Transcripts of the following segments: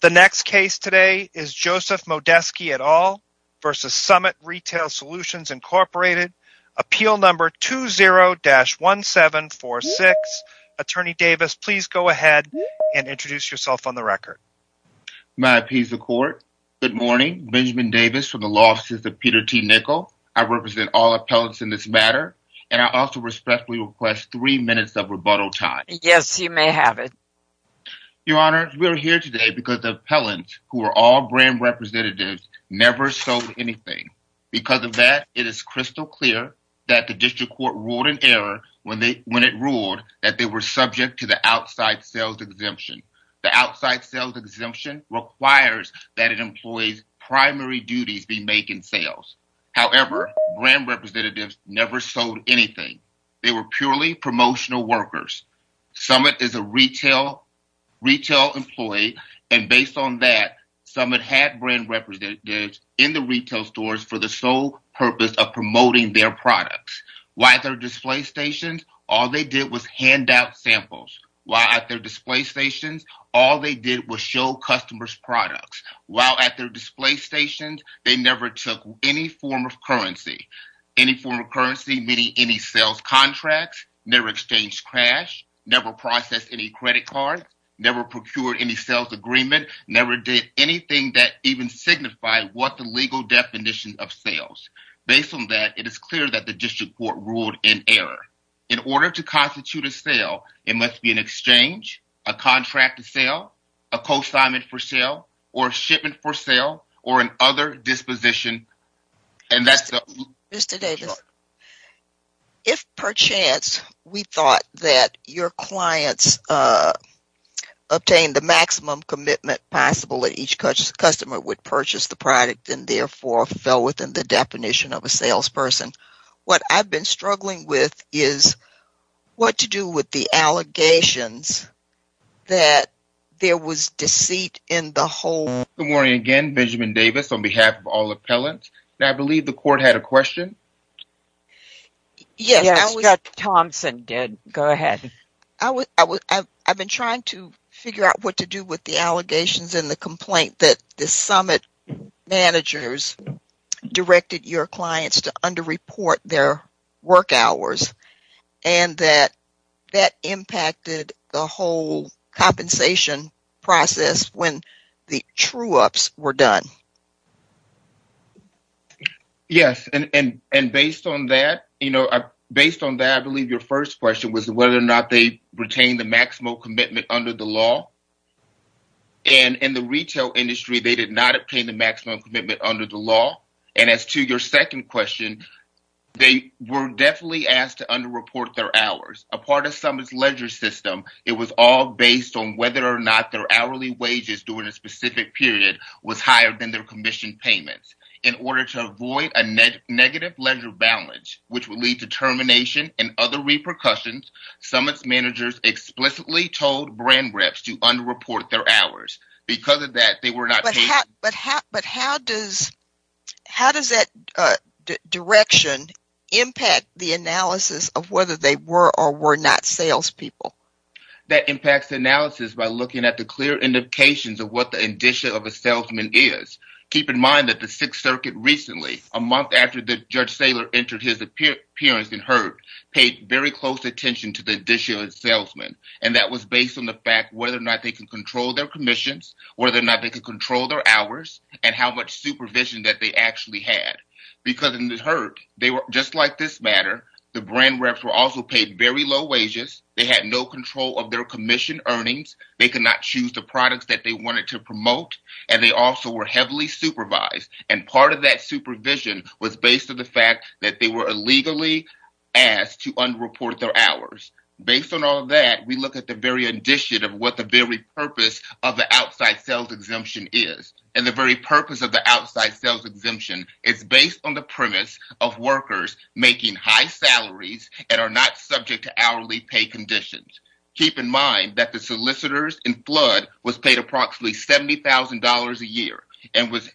The next case today is Joseph Modeski et al. v. Summit Retail Solutions, Inc. Appeal number 20-1746. Attorney Davis, please go ahead and introduce yourself on the record. May I appease the court? Good morning. Benjamin Davis from the Law Offices of Peter T. Nichol. I represent all appellants in this matter, and I also respectfully request three minutes of because the appellants, who are all brand representatives, never sold anything. Because of that, it is crystal clear that the district court ruled in error when it ruled that they were subject to the outside sales exemption. The outside sales exemption requires that an employee's primary duties be making sales. However, brand representatives never sold anything. They were purely promotional workers. Summit is a retail employee, and based on that, Summit had brand representatives in the retail stores for the sole purpose of promoting their products. While at their display stations, all they did was hand out samples. While at their display stations, all they did was show customers products. While at their display stations, they never took any form of currency. Any form of currency meaning any sales contracts, never exchanged cash, never processed any credit card, never procured any sales agreement, never did anything that even signified what the legal definition of sales. Based on that, it is clear that the district court ruled in error. In order to constitute a sale, it must be an exchange, a contract to sell, a cosignment for sale, or a shipment for sale, or an other disposition. Mr. Davis, if per chance we thought that your clients obtained the maximum commitment possible that each customer would purchase the product and therefore fell within the definition of a salesperson, what I've been struggling with is what to do with the allegations that there was deceit in the whole... Good morning again, Benjamin Davis on behalf of all appellants. Now, I believe the court had a question. Yes, Scott Thompson did. Go ahead. I've been trying to figure out what to do with the allegations in the complaint that the summit managers directed your clients to under-report their work hours and that impacted the whole compensation process when the true-ups were done. Yes, and based on that, I believe your first question was whether or not they retained the maximum commitment under the law. And as to your second question, they were definitely asked to under-report their hours. A part of Summit's ledger system, it was all based on whether or not their hourly wages during a specific period was higher than their commissioned payments. In order to avoid a negative ledger balance, which would lead to termination and other repercussions, Summit's managers explicitly told brand reps to under-report their hours. Because of that, they were not... But how does that direction impact the analysis of whether they were or were not salespeople? That impacts the analysis by looking at the clear indications of what the indicia of a salesman is. Keep in mind that the Sixth Circuit recently, a month after Judge Saylor entered his appearance in court, paid very close attention to the indicia of a salesman, and that was based on the fact whether or not they can control their commissions, whether or not they can control their hours, and how much supervision that they actually had. Because in the herd, just like this matter, the brand reps were also paid very low wages, they had no control of their commission earnings, they could not choose the products that they wanted to promote, and they also were heavily supervised. And part of that supervision was based on the fact that they were illegally asked to under-report their hours. Based on all that, we look at the very indicia of what the very purpose of the outside sales exemption is. And the very purpose of the outside sales exemption is based on the premise of workers making high salaries and are not subject to hourly pay conditions. Keep in mind that the solicitors in flood was paid approximately $70,000 a year and was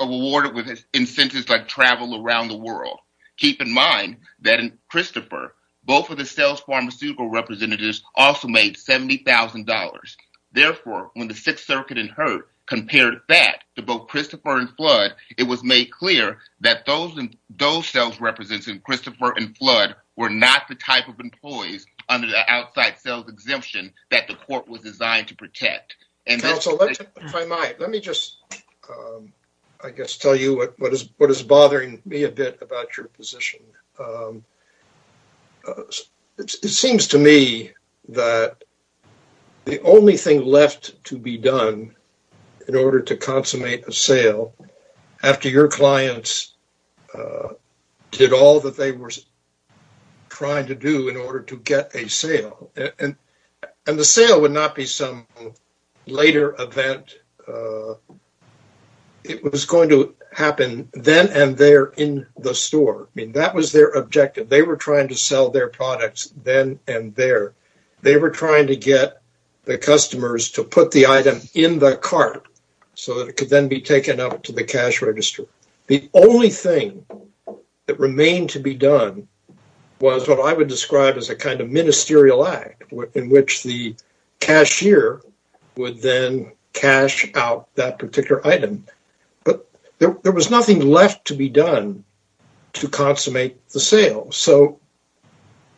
awarded with incentives like travel around the world. Keep in mind that in Christopher, both of the sales pharmaceutical representatives also made $70,000. Therefore, when the 6th Circuit in Hurt compared that to both Christopher and flood, it was made clear that those sales representatives in Christopher and flood were not the type of employees under the outside sales exemption that the court was designed to protect. Counsel, if I might, let me just, I guess, tell you what is bothering me a bit about your position. It seems to me that the only thing left to be done in order to consummate a sale, after your clients did all that they were trying to do in order to get a sale, and the sale would not be some later event. It was going to happen then and there in the store. I mean, that was their objective. They were trying to sell their products then and there. They were trying to get the customers to put the item in the cart so that it could then be taken to the cash register. The only thing that remained to be done was what I would describe as a kind of ministerial act in which the cashier would then cash out that particular item. There was nothing left to be done to consummate the sale.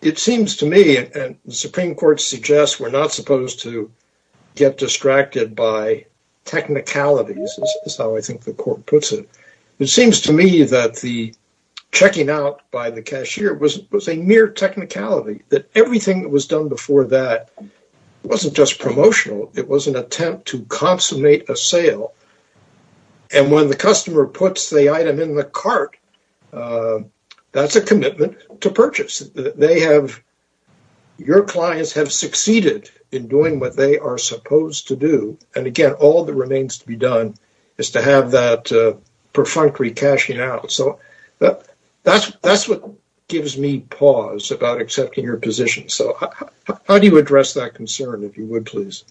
It seems to me, and the Supreme Court suggests, we're not supposed to get distracted by technicalities, is how I think the court puts it. It seems to me that the checking out by the cashier was a mere technicality, that everything that was done before that wasn't just promotional. It was an attempt to consummate a sale. When the customer puts the item in the cart, that's a commitment to purchase. They have, your clients have succeeded in doing what they are supposed to do, and again, all that remains to be done is to have that perfunctory cashing out. That's what gives me pause about accepting your position. How do you address that concern, if you would, please?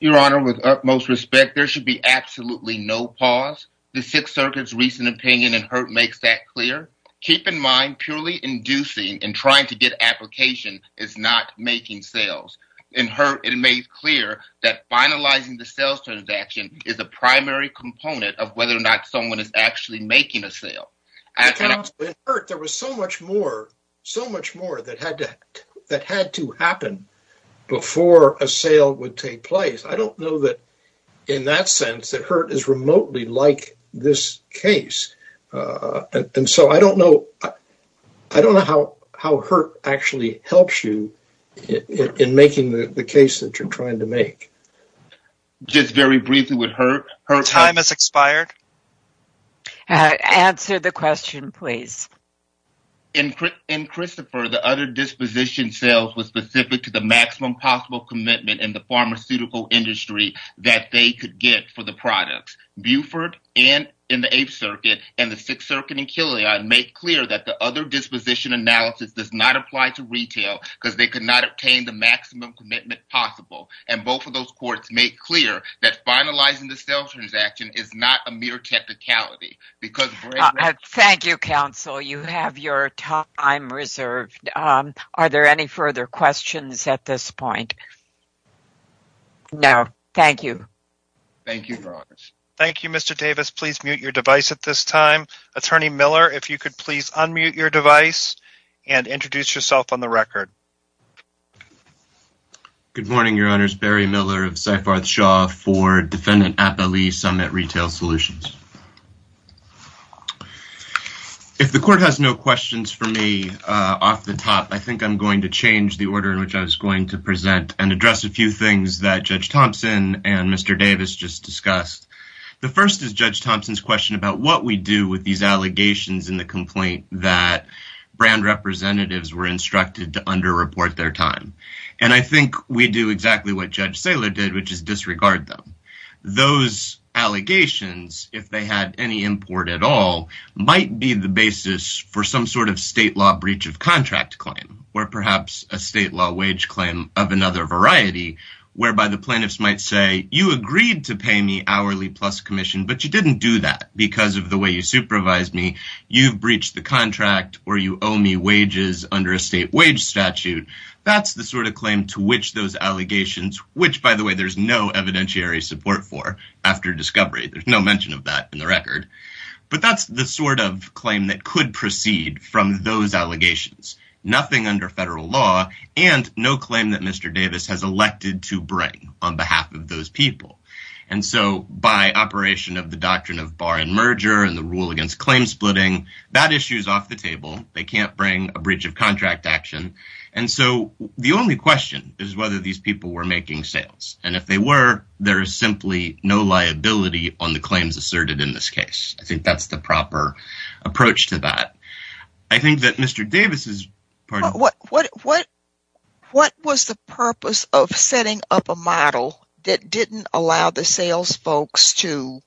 Your Honor, with utmost respect, there should be absolutely no pause. The Sixth Circuit's recent opinion in Hurt makes that clear. Keep in mind, purely inducing and trying to get application is not making sales. In Hurt, it made clear that finalizing the sales transaction is a primary component of whether or not someone is actually making a sale. In Hurt, there was so much more that had to happen before a sale would take place. I don't know that, in that sense, that Hurt is remotely like this case. I don't know how Hurt actually helps you in making the case that you're trying to make. Just very briefly with Hurt. Time has expired. Answer the question, please. In Christopher, the other disposition sales were specific to the maximum possible commitment in the pharmaceutical industry that they could get for the products. Buford and in the Eighth Circuit and the Sixth Circuit and Killian make clear that the other disposition analysis does not apply to retail because they could not obtain the maximum commitment possible. Both of those courts make clear that finalizing the sales transaction is not a mere technicality. Thank you, counsel. You have your time reserved. Are there any further questions at this point? No. Thank you. Thank you, Your Honor. Thank you, Mr. Davis. Please mute your device at this time. Attorney Miller, if you could please unmute your device and introduce yourself on the record. Good morning, Your Honors. Barry Miller of Seifarth Shaw for Defendant Appalee Summit Retail Solutions. If the Court has no questions for me off the top, I think I'm going to change the order in which I was going to present and address a few things that Judge Thompson and Mr. Davis just discussed. The first is Judge Thompson's question about what we do with these allegations in the complaint that brand representatives were instructed to underreport their time. And I think we do exactly what Judge Saylor did, which is disregard them. Those allegations, if they had any import at all, might be the basis for some sort of state law contract claim or perhaps a state law wage claim of another variety whereby the plaintiffs might say, you agreed to pay me hourly plus commission, but you didn't do that because of the way you supervised me. You've breached the contract or you owe me wages under a state wage statute. That's the sort of claim to which those allegations, which, by the way, there's no evidentiary support for after discovery. There's no mention of that in the record. But that's the sort of claim that could proceed from those allegations. Nothing under federal law and no claim that Mr. Davis has elected to bring on behalf of those people. And so by operation of the doctrine of bar and merger and the rule against claim splitting, that issue is off the table. They can't bring a breach of contract action. And so the only question is whether these people were making sales. And if they were, there is simply no liability on the I think that's the proper approach to that. I think that Mr. Davis is what what what what was the purpose of setting up a model that didn't allow the sales folks to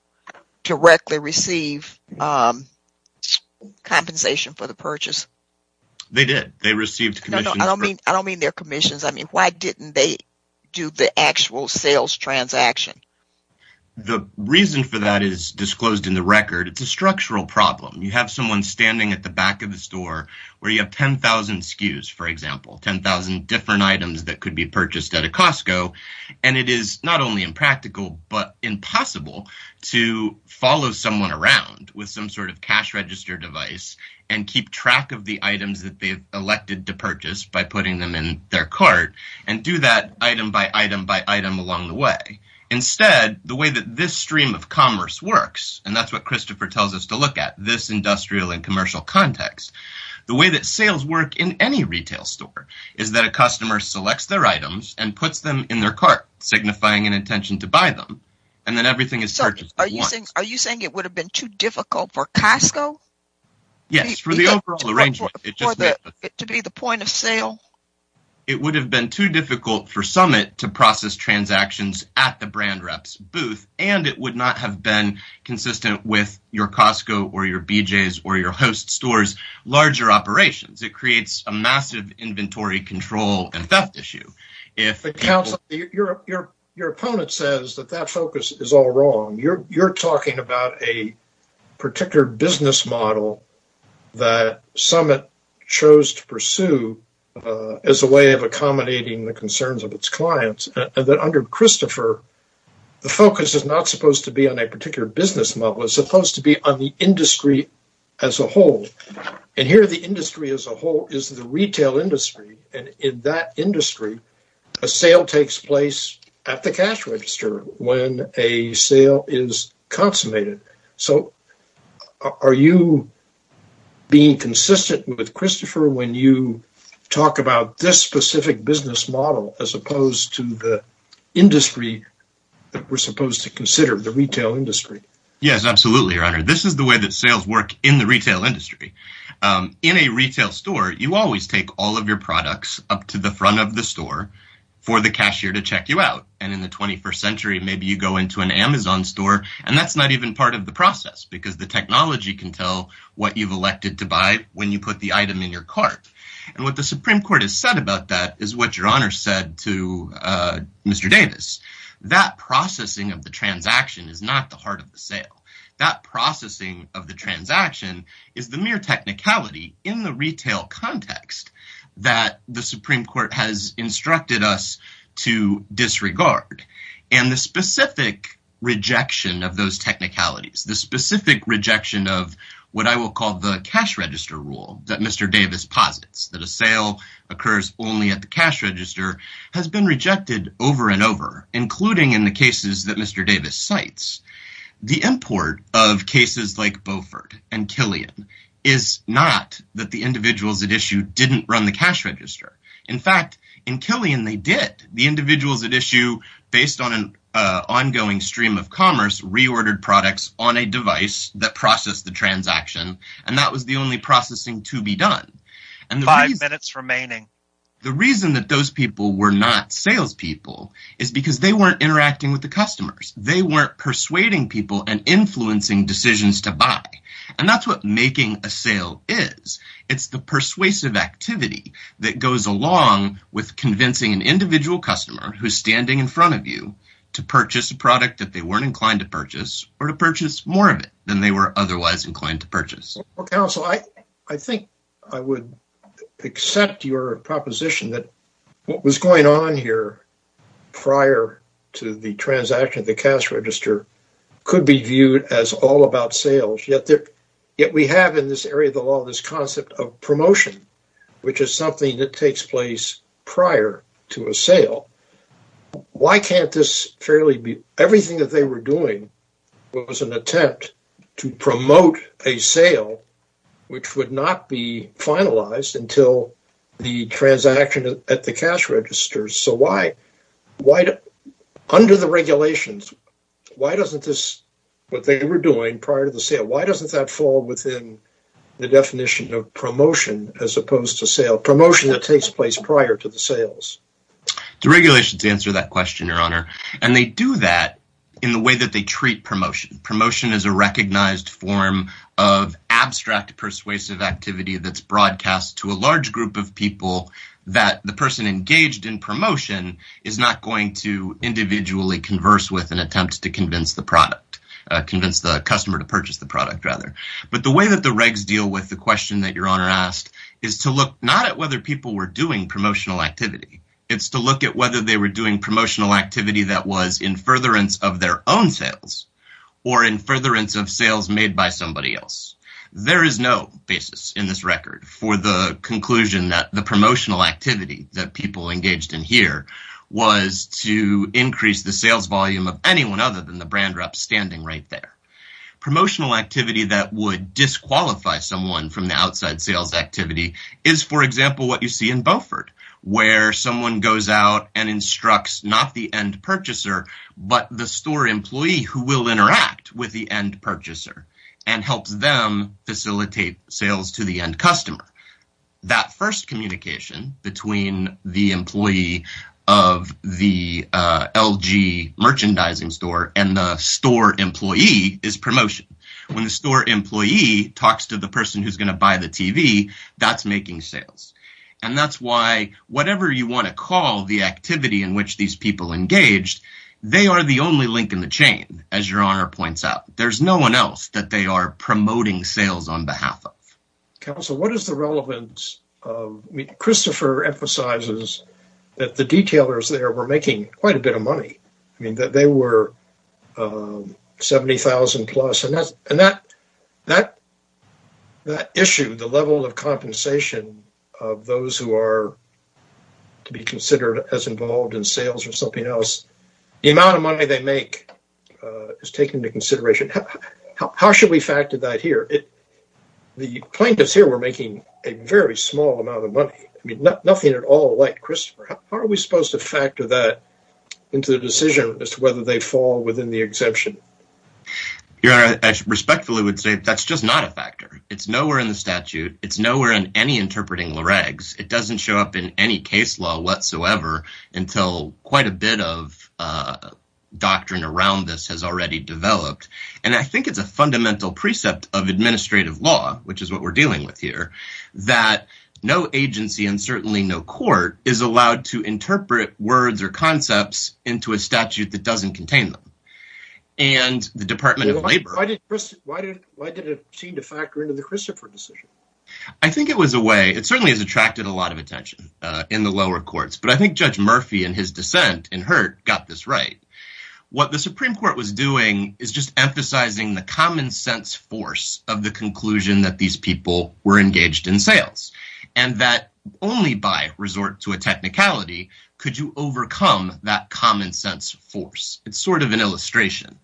directly receive compensation for the purchase? They did. They received. I don't mean I don't mean their commissions. I mean, why didn't they do the actual sales transaction? The reason for that is disclosed in the record. It's a structural problem. You have someone standing at the back of the store where you have ten thousand skews, for example, ten thousand different items that could be purchased at a Costco. And it is not only impractical, but impossible to follow someone around with some sort of cash register device and keep track of the items that they've elected to purchase by putting them in their cart and do that item by item by item along the way. Instead, the way that this stream of commerce works, and that's what Christopher tells us to look at this industrial and commercial context, the way that sales work in any retail store is that a customer selects their items and puts them in their cart, signifying an intention to buy them. And then everything is so are you saying are you saying it would have been too difficult for Costco? Yes, for the overall arrangement to be the point of sale. It would have been too difficult for Summit to process transactions at the brand reps booth, and it would not have been consistent with your Costco or your BJ's or your host stores larger operations. It creates a massive inventory control and theft issue. Your opponent says that that focus is all wrong. You're talking about a particular business model that Summit chose to pursue as a way of accommodating the concerns of its clients. And then under Christopher, the focus is not supposed to be on a particular business model. It's supposed to be on the industry as a whole. And here the industry as a whole is the retail industry. And in that industry, a sale takes place at the cash register when a sale is consummated. So are you being consistent with Christopher when you talk about this specific business model as opposed to the industry that we're supposed to consider the retail industry? Yes, absolutely, your honor. This is the way that sales work in the retail industry. In a retail store, you always take all of your products up to the front of the store for the cashier to check you out. And in the 21st century, maybe you go into an Amazon store, and that's not even part of the process because the technology can tell what you've elected to buy when you put the item in your cart. And what the Supreme Court has said about that is what your honor said to Mr. Davis. That processing of the transaction is not the heart of the sale. That processing of the transaction is the mere technicality in the retail context that the those technicalities, the specific rejection of what I will call the cash register rule that Mr. Davis posits that a sale occurs only at the cash register has been rejected over and over, including in the cases that Mr. Davis cites. The import of cases like Beaufort and Killian is not that the individuals at issue didn't run the cash register. In fact, in Killian, they did. The individuals at issue, based on an ongoing stream of commerce, reordered products on a device that processed the transaction. And that was the only processing to be done. And five minutes remaining. The reason that those people were not salespeople is because they weren't interacting with the customers. They weren't persuading people and influencing decisions to buy. And that's what making a sale is. It's the persuasive activity that goes along with an individual customer who's standing in front of you to purchase a product that they weren't inclined to purchase or to purchase more of it than they were otherwise inclined to purchase. Well, counsel, I think I would accept your proposition that what was going on here prior to the transaction of the cash register could be viewed as all about sales. Yet we have in this area of the law this concept of promotion, which is something that takes place prior a sale. Everything that they were doing was an attempt to promote a sale, which would not be finalized until the transaction at the cash register. So under the regulations, why doesn't this, what they were doing prior to the sale, why doesn't that fall within the definition of promotion that takes place prior to the sales? The regulations answer that question, Your Honor, and they do that in the way that they treat promotion. Promotion is a recognized form of abstract persuasive activity that's broadcast to a large group of people that the person engaged in promotion is not going to individually converse with an attempt to convince the product, convince the customer to purchase the product rather. But the way that the regs deal with the is to look not at whether people were doing promotional activity. It's to look at whether they were doing promotional activity that was in furtherance of their own sales or in furtherance of sales made by somebody else. There is no basis in this record for the conclusion that the promotional activity that people engaged in here was to increase the sales volume of anyone other than the brand rep standing right there. Promotional activity that would disqualify someone from the sales activity is, for example, what you see in Beaufort, where someone goes out and instructs not the end purchaser, but the store employee who will interact with the end purchaser and helps them facilitate sales to the end customer. That first communication between the employee of the LG merchandising store and the store employee is promotion. When the store employee talks to the TV, that's making sales. That's why whatever you want to call the activity in which these people engaged, they are the only link in the chain. As your honor points out, there's no one else that they are promoting sales on behalf of. Christopher emphasizes that the detailers there were making quite a bit of money. They were $70,000 plus. That issue, the level of compensation of those who are to be considered as involved in sales or something else, the amount of money they make is taken into consideration. How should we factor that here? The plaintiffs here were making a very into the decision as to whether they fall within the exception. Your honor, I respectfully would say that's just not a factor. It's nowhere in the statute. It's nowhere in any interpreting regs. It doesn't show up in any case law whatsoever until quite a bit of doctrine around this has already developed. I think it's a fundamental precept of administrative law, which is what we're dealing with here, that no agency and certainly no court is allowed to into a statute that doesn't contain them. Why did it seem to factor into the Christopher decision? I think it was a way. It certainly has attracted a lot of attention in the lower courts, but I think Judge Murphy and his dissent in Hurt got this right. What the Supreme Court was doing is just emphasizing the common sense force of the conclusion that these people were engaged in sales and that only by resort to a technicality could you overcome that common sense force. It's sort of an illustration,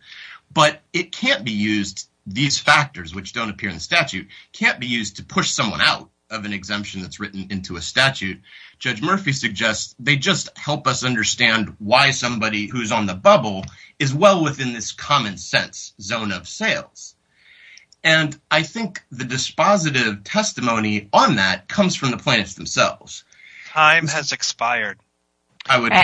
but it can't be used. These factors, which don't appear in the statute, can't be used to push someone out of an exemption that's written into a statute. Judge Murphy suggests they just help us understand why somebody who's on the bubble is well within this common sense zone of sales. I think the dispositive testimony on that comes from the plaintiffs themselves. Time has expired.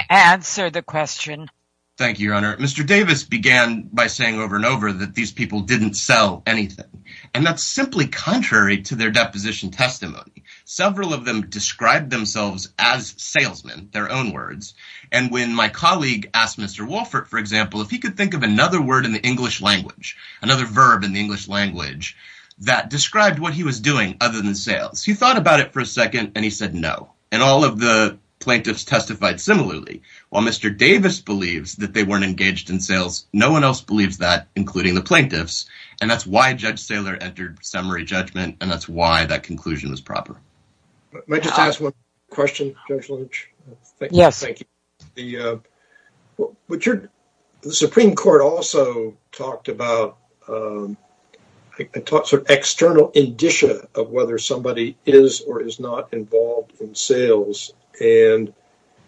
Answer the question. Thank you, Your Honor. Mr. Davis began by saying over and over that these people didn't sell anything, and that's simply contrary to their deposition testimony. Several of them described themselves as salesmen, their own words, and when my colleague asked Mr. Wolfert, for example, if he could think of another word in the English language, another verb in the English language that described what he was doing other than sales, he thought about it for a second and he said no, and all of the plaintiffs testified similarly. While Mr. Davis believes that they weren't engaged in sales, no one else believes that, including the plaintiffs, and that's why Judge Judge Lynch. May I just ask one question, Judge Lynch? Yes. Thank you. The Supreme Court also talked about an external indicia of whether somebody is or is not involved in sales, and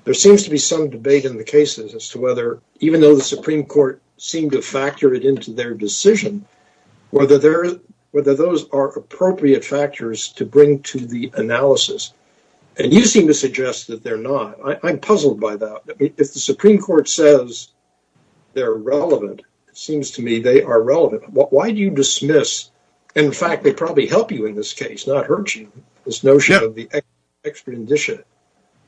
there seems to be some debate in the cases as to whether, even though the Supreme Court seemed to factor it into their decision, whether those are appropriate factors to bring to the analysis, and you seem to suggest that they're not. I'm puzzled by that. If the Supreme Court says they're relevant, it seems to me they are relevant. Why do you dismiss, in fact, they probably help you in this case, not hurt you, this notion of the extra indicia?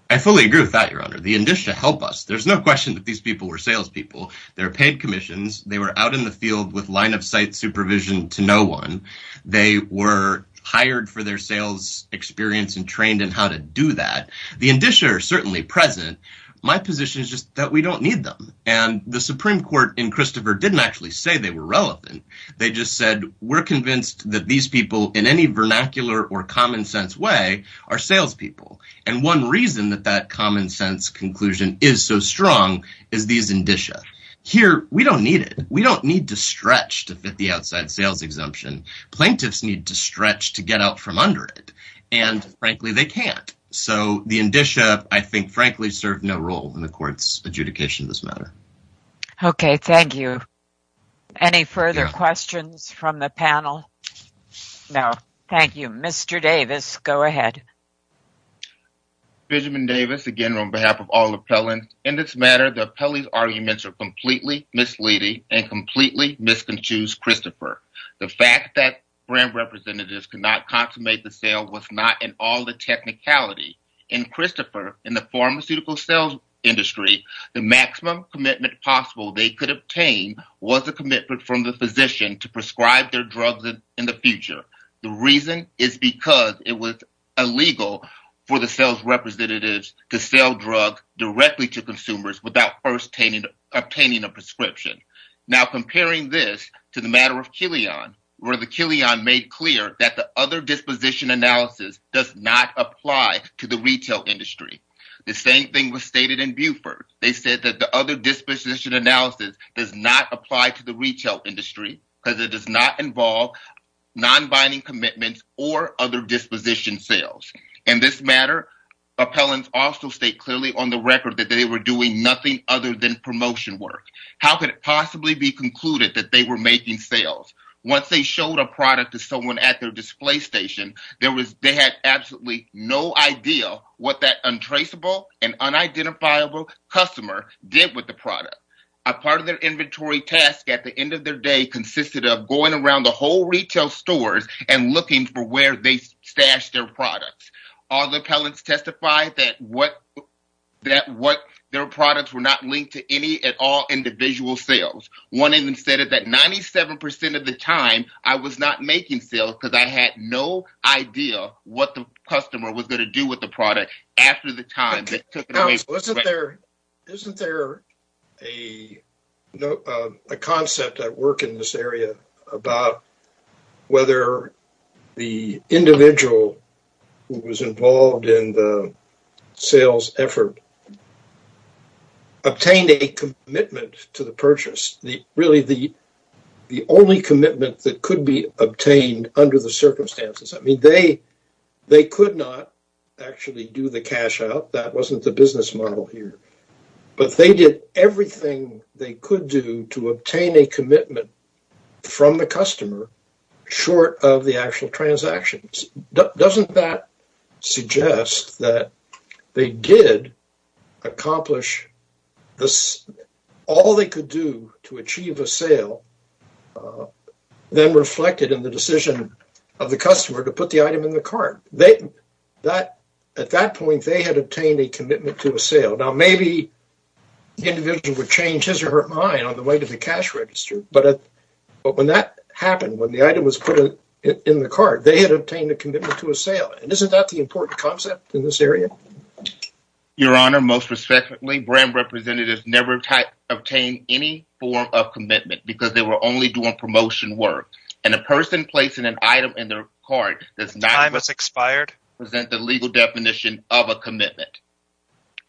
I fully agree with that, Your Honor. The indicia help us. There's no question that these people were salespeople. They were paid commissions. They were out in the field with line-of-sight supervision to no one. They were hired for their sales experience and trained in how to do that. The indicia are certainly present. My position is just that we don't need them, and the Supreme Court in Christopher didn't actually say they were relevant. They just said we're convinced that these people, in any vernacular or common-sense way, are salespeople, and one reason that that common-sense conclusion is so strong is these indicia. Here, we don't need it. We don't need to stretch to fit the outside sales exemption. Plaintiffs need to stretch to get out from under it, and frankly, they can't. So, the indicia, I think, frankly, serve no role in the Court's adjudication of this matter. Okay. Thank you. Any further questions from the panel? No. Thank you. Mr. Davis, go ahead. Benjamin Davis, again, on behalf of all plaintiffs' matter, the appellee's arguments are completely misleading and completely misconclude Christopher. The fact that brand representatives could not consummate the sale was not in all the technicality. In Christopher, in the pharmaceutical sales industry, the maximum commitment possible they could obtain was a commitment from the physician to prescribe their drugs in the future. The reason is because it was illegal for the sales representatives to sell drugs directly to consumers without first obtaining a prescription. Now, comparing this to the matter of Killian, where the Killian made clear that the other disposition analysis does not apply to the retail industry. The same thing was stated in Buford. They said that the other disposition analysis does not apply to the retail industry because it does not involve non-binding commitments or other disposition sales. In this matter, appellants also state clearly on the record that they were doing nothing other than promotion work. How could it possibly be concluded that they were making sales? Once they showed a product to someone at their display station, they had absolutely no idea what that untraceable and unidentifiable customer did with the product. A part of their inventory task at the end of their day consisted of going around the whole retail stores and looking for where they stashed their products. All the appellants testified that their products were not linked to any at all individual sales. One of them said that 97 percent of the time I was not making sales because I had no idea what the customer was going to do with the product after the time they took it away. Isn't there a concept at work in this area about whether the individual who was involved in the sales effort obtained a commitment to the purchase? The only commitment that could be obtained under the circumstances. They could not actually do the cash out. That wasn't the business model here. But they did everything they could do to obtain a commitment from the customer short of the actual transactions. Doesn't that suggest that they did accomplish all they could do to achieve a sale then reflected in the decision of the customer to put the item in the cart? At that point, they had obtained a commitment to a sale. Now, maybe the individual would change his or her mind on the way to the cash register. But when that happened, when the item was put in the cart, they had obtained a commitment to a sale. Isn't that the important concept in this area? Your Honor, most respectfully, brand representatives never obtained any form of commitment because they were only doing promotion work. And a person placing an item in their cart does not present the legal definition of a commitment.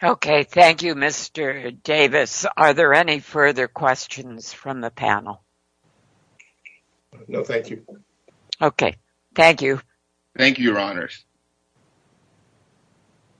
Okay. Thank you, Mr. Davis. Are there any further questions from the panel? No, thank you. Okay. Thank you. Thank you, Your Honors.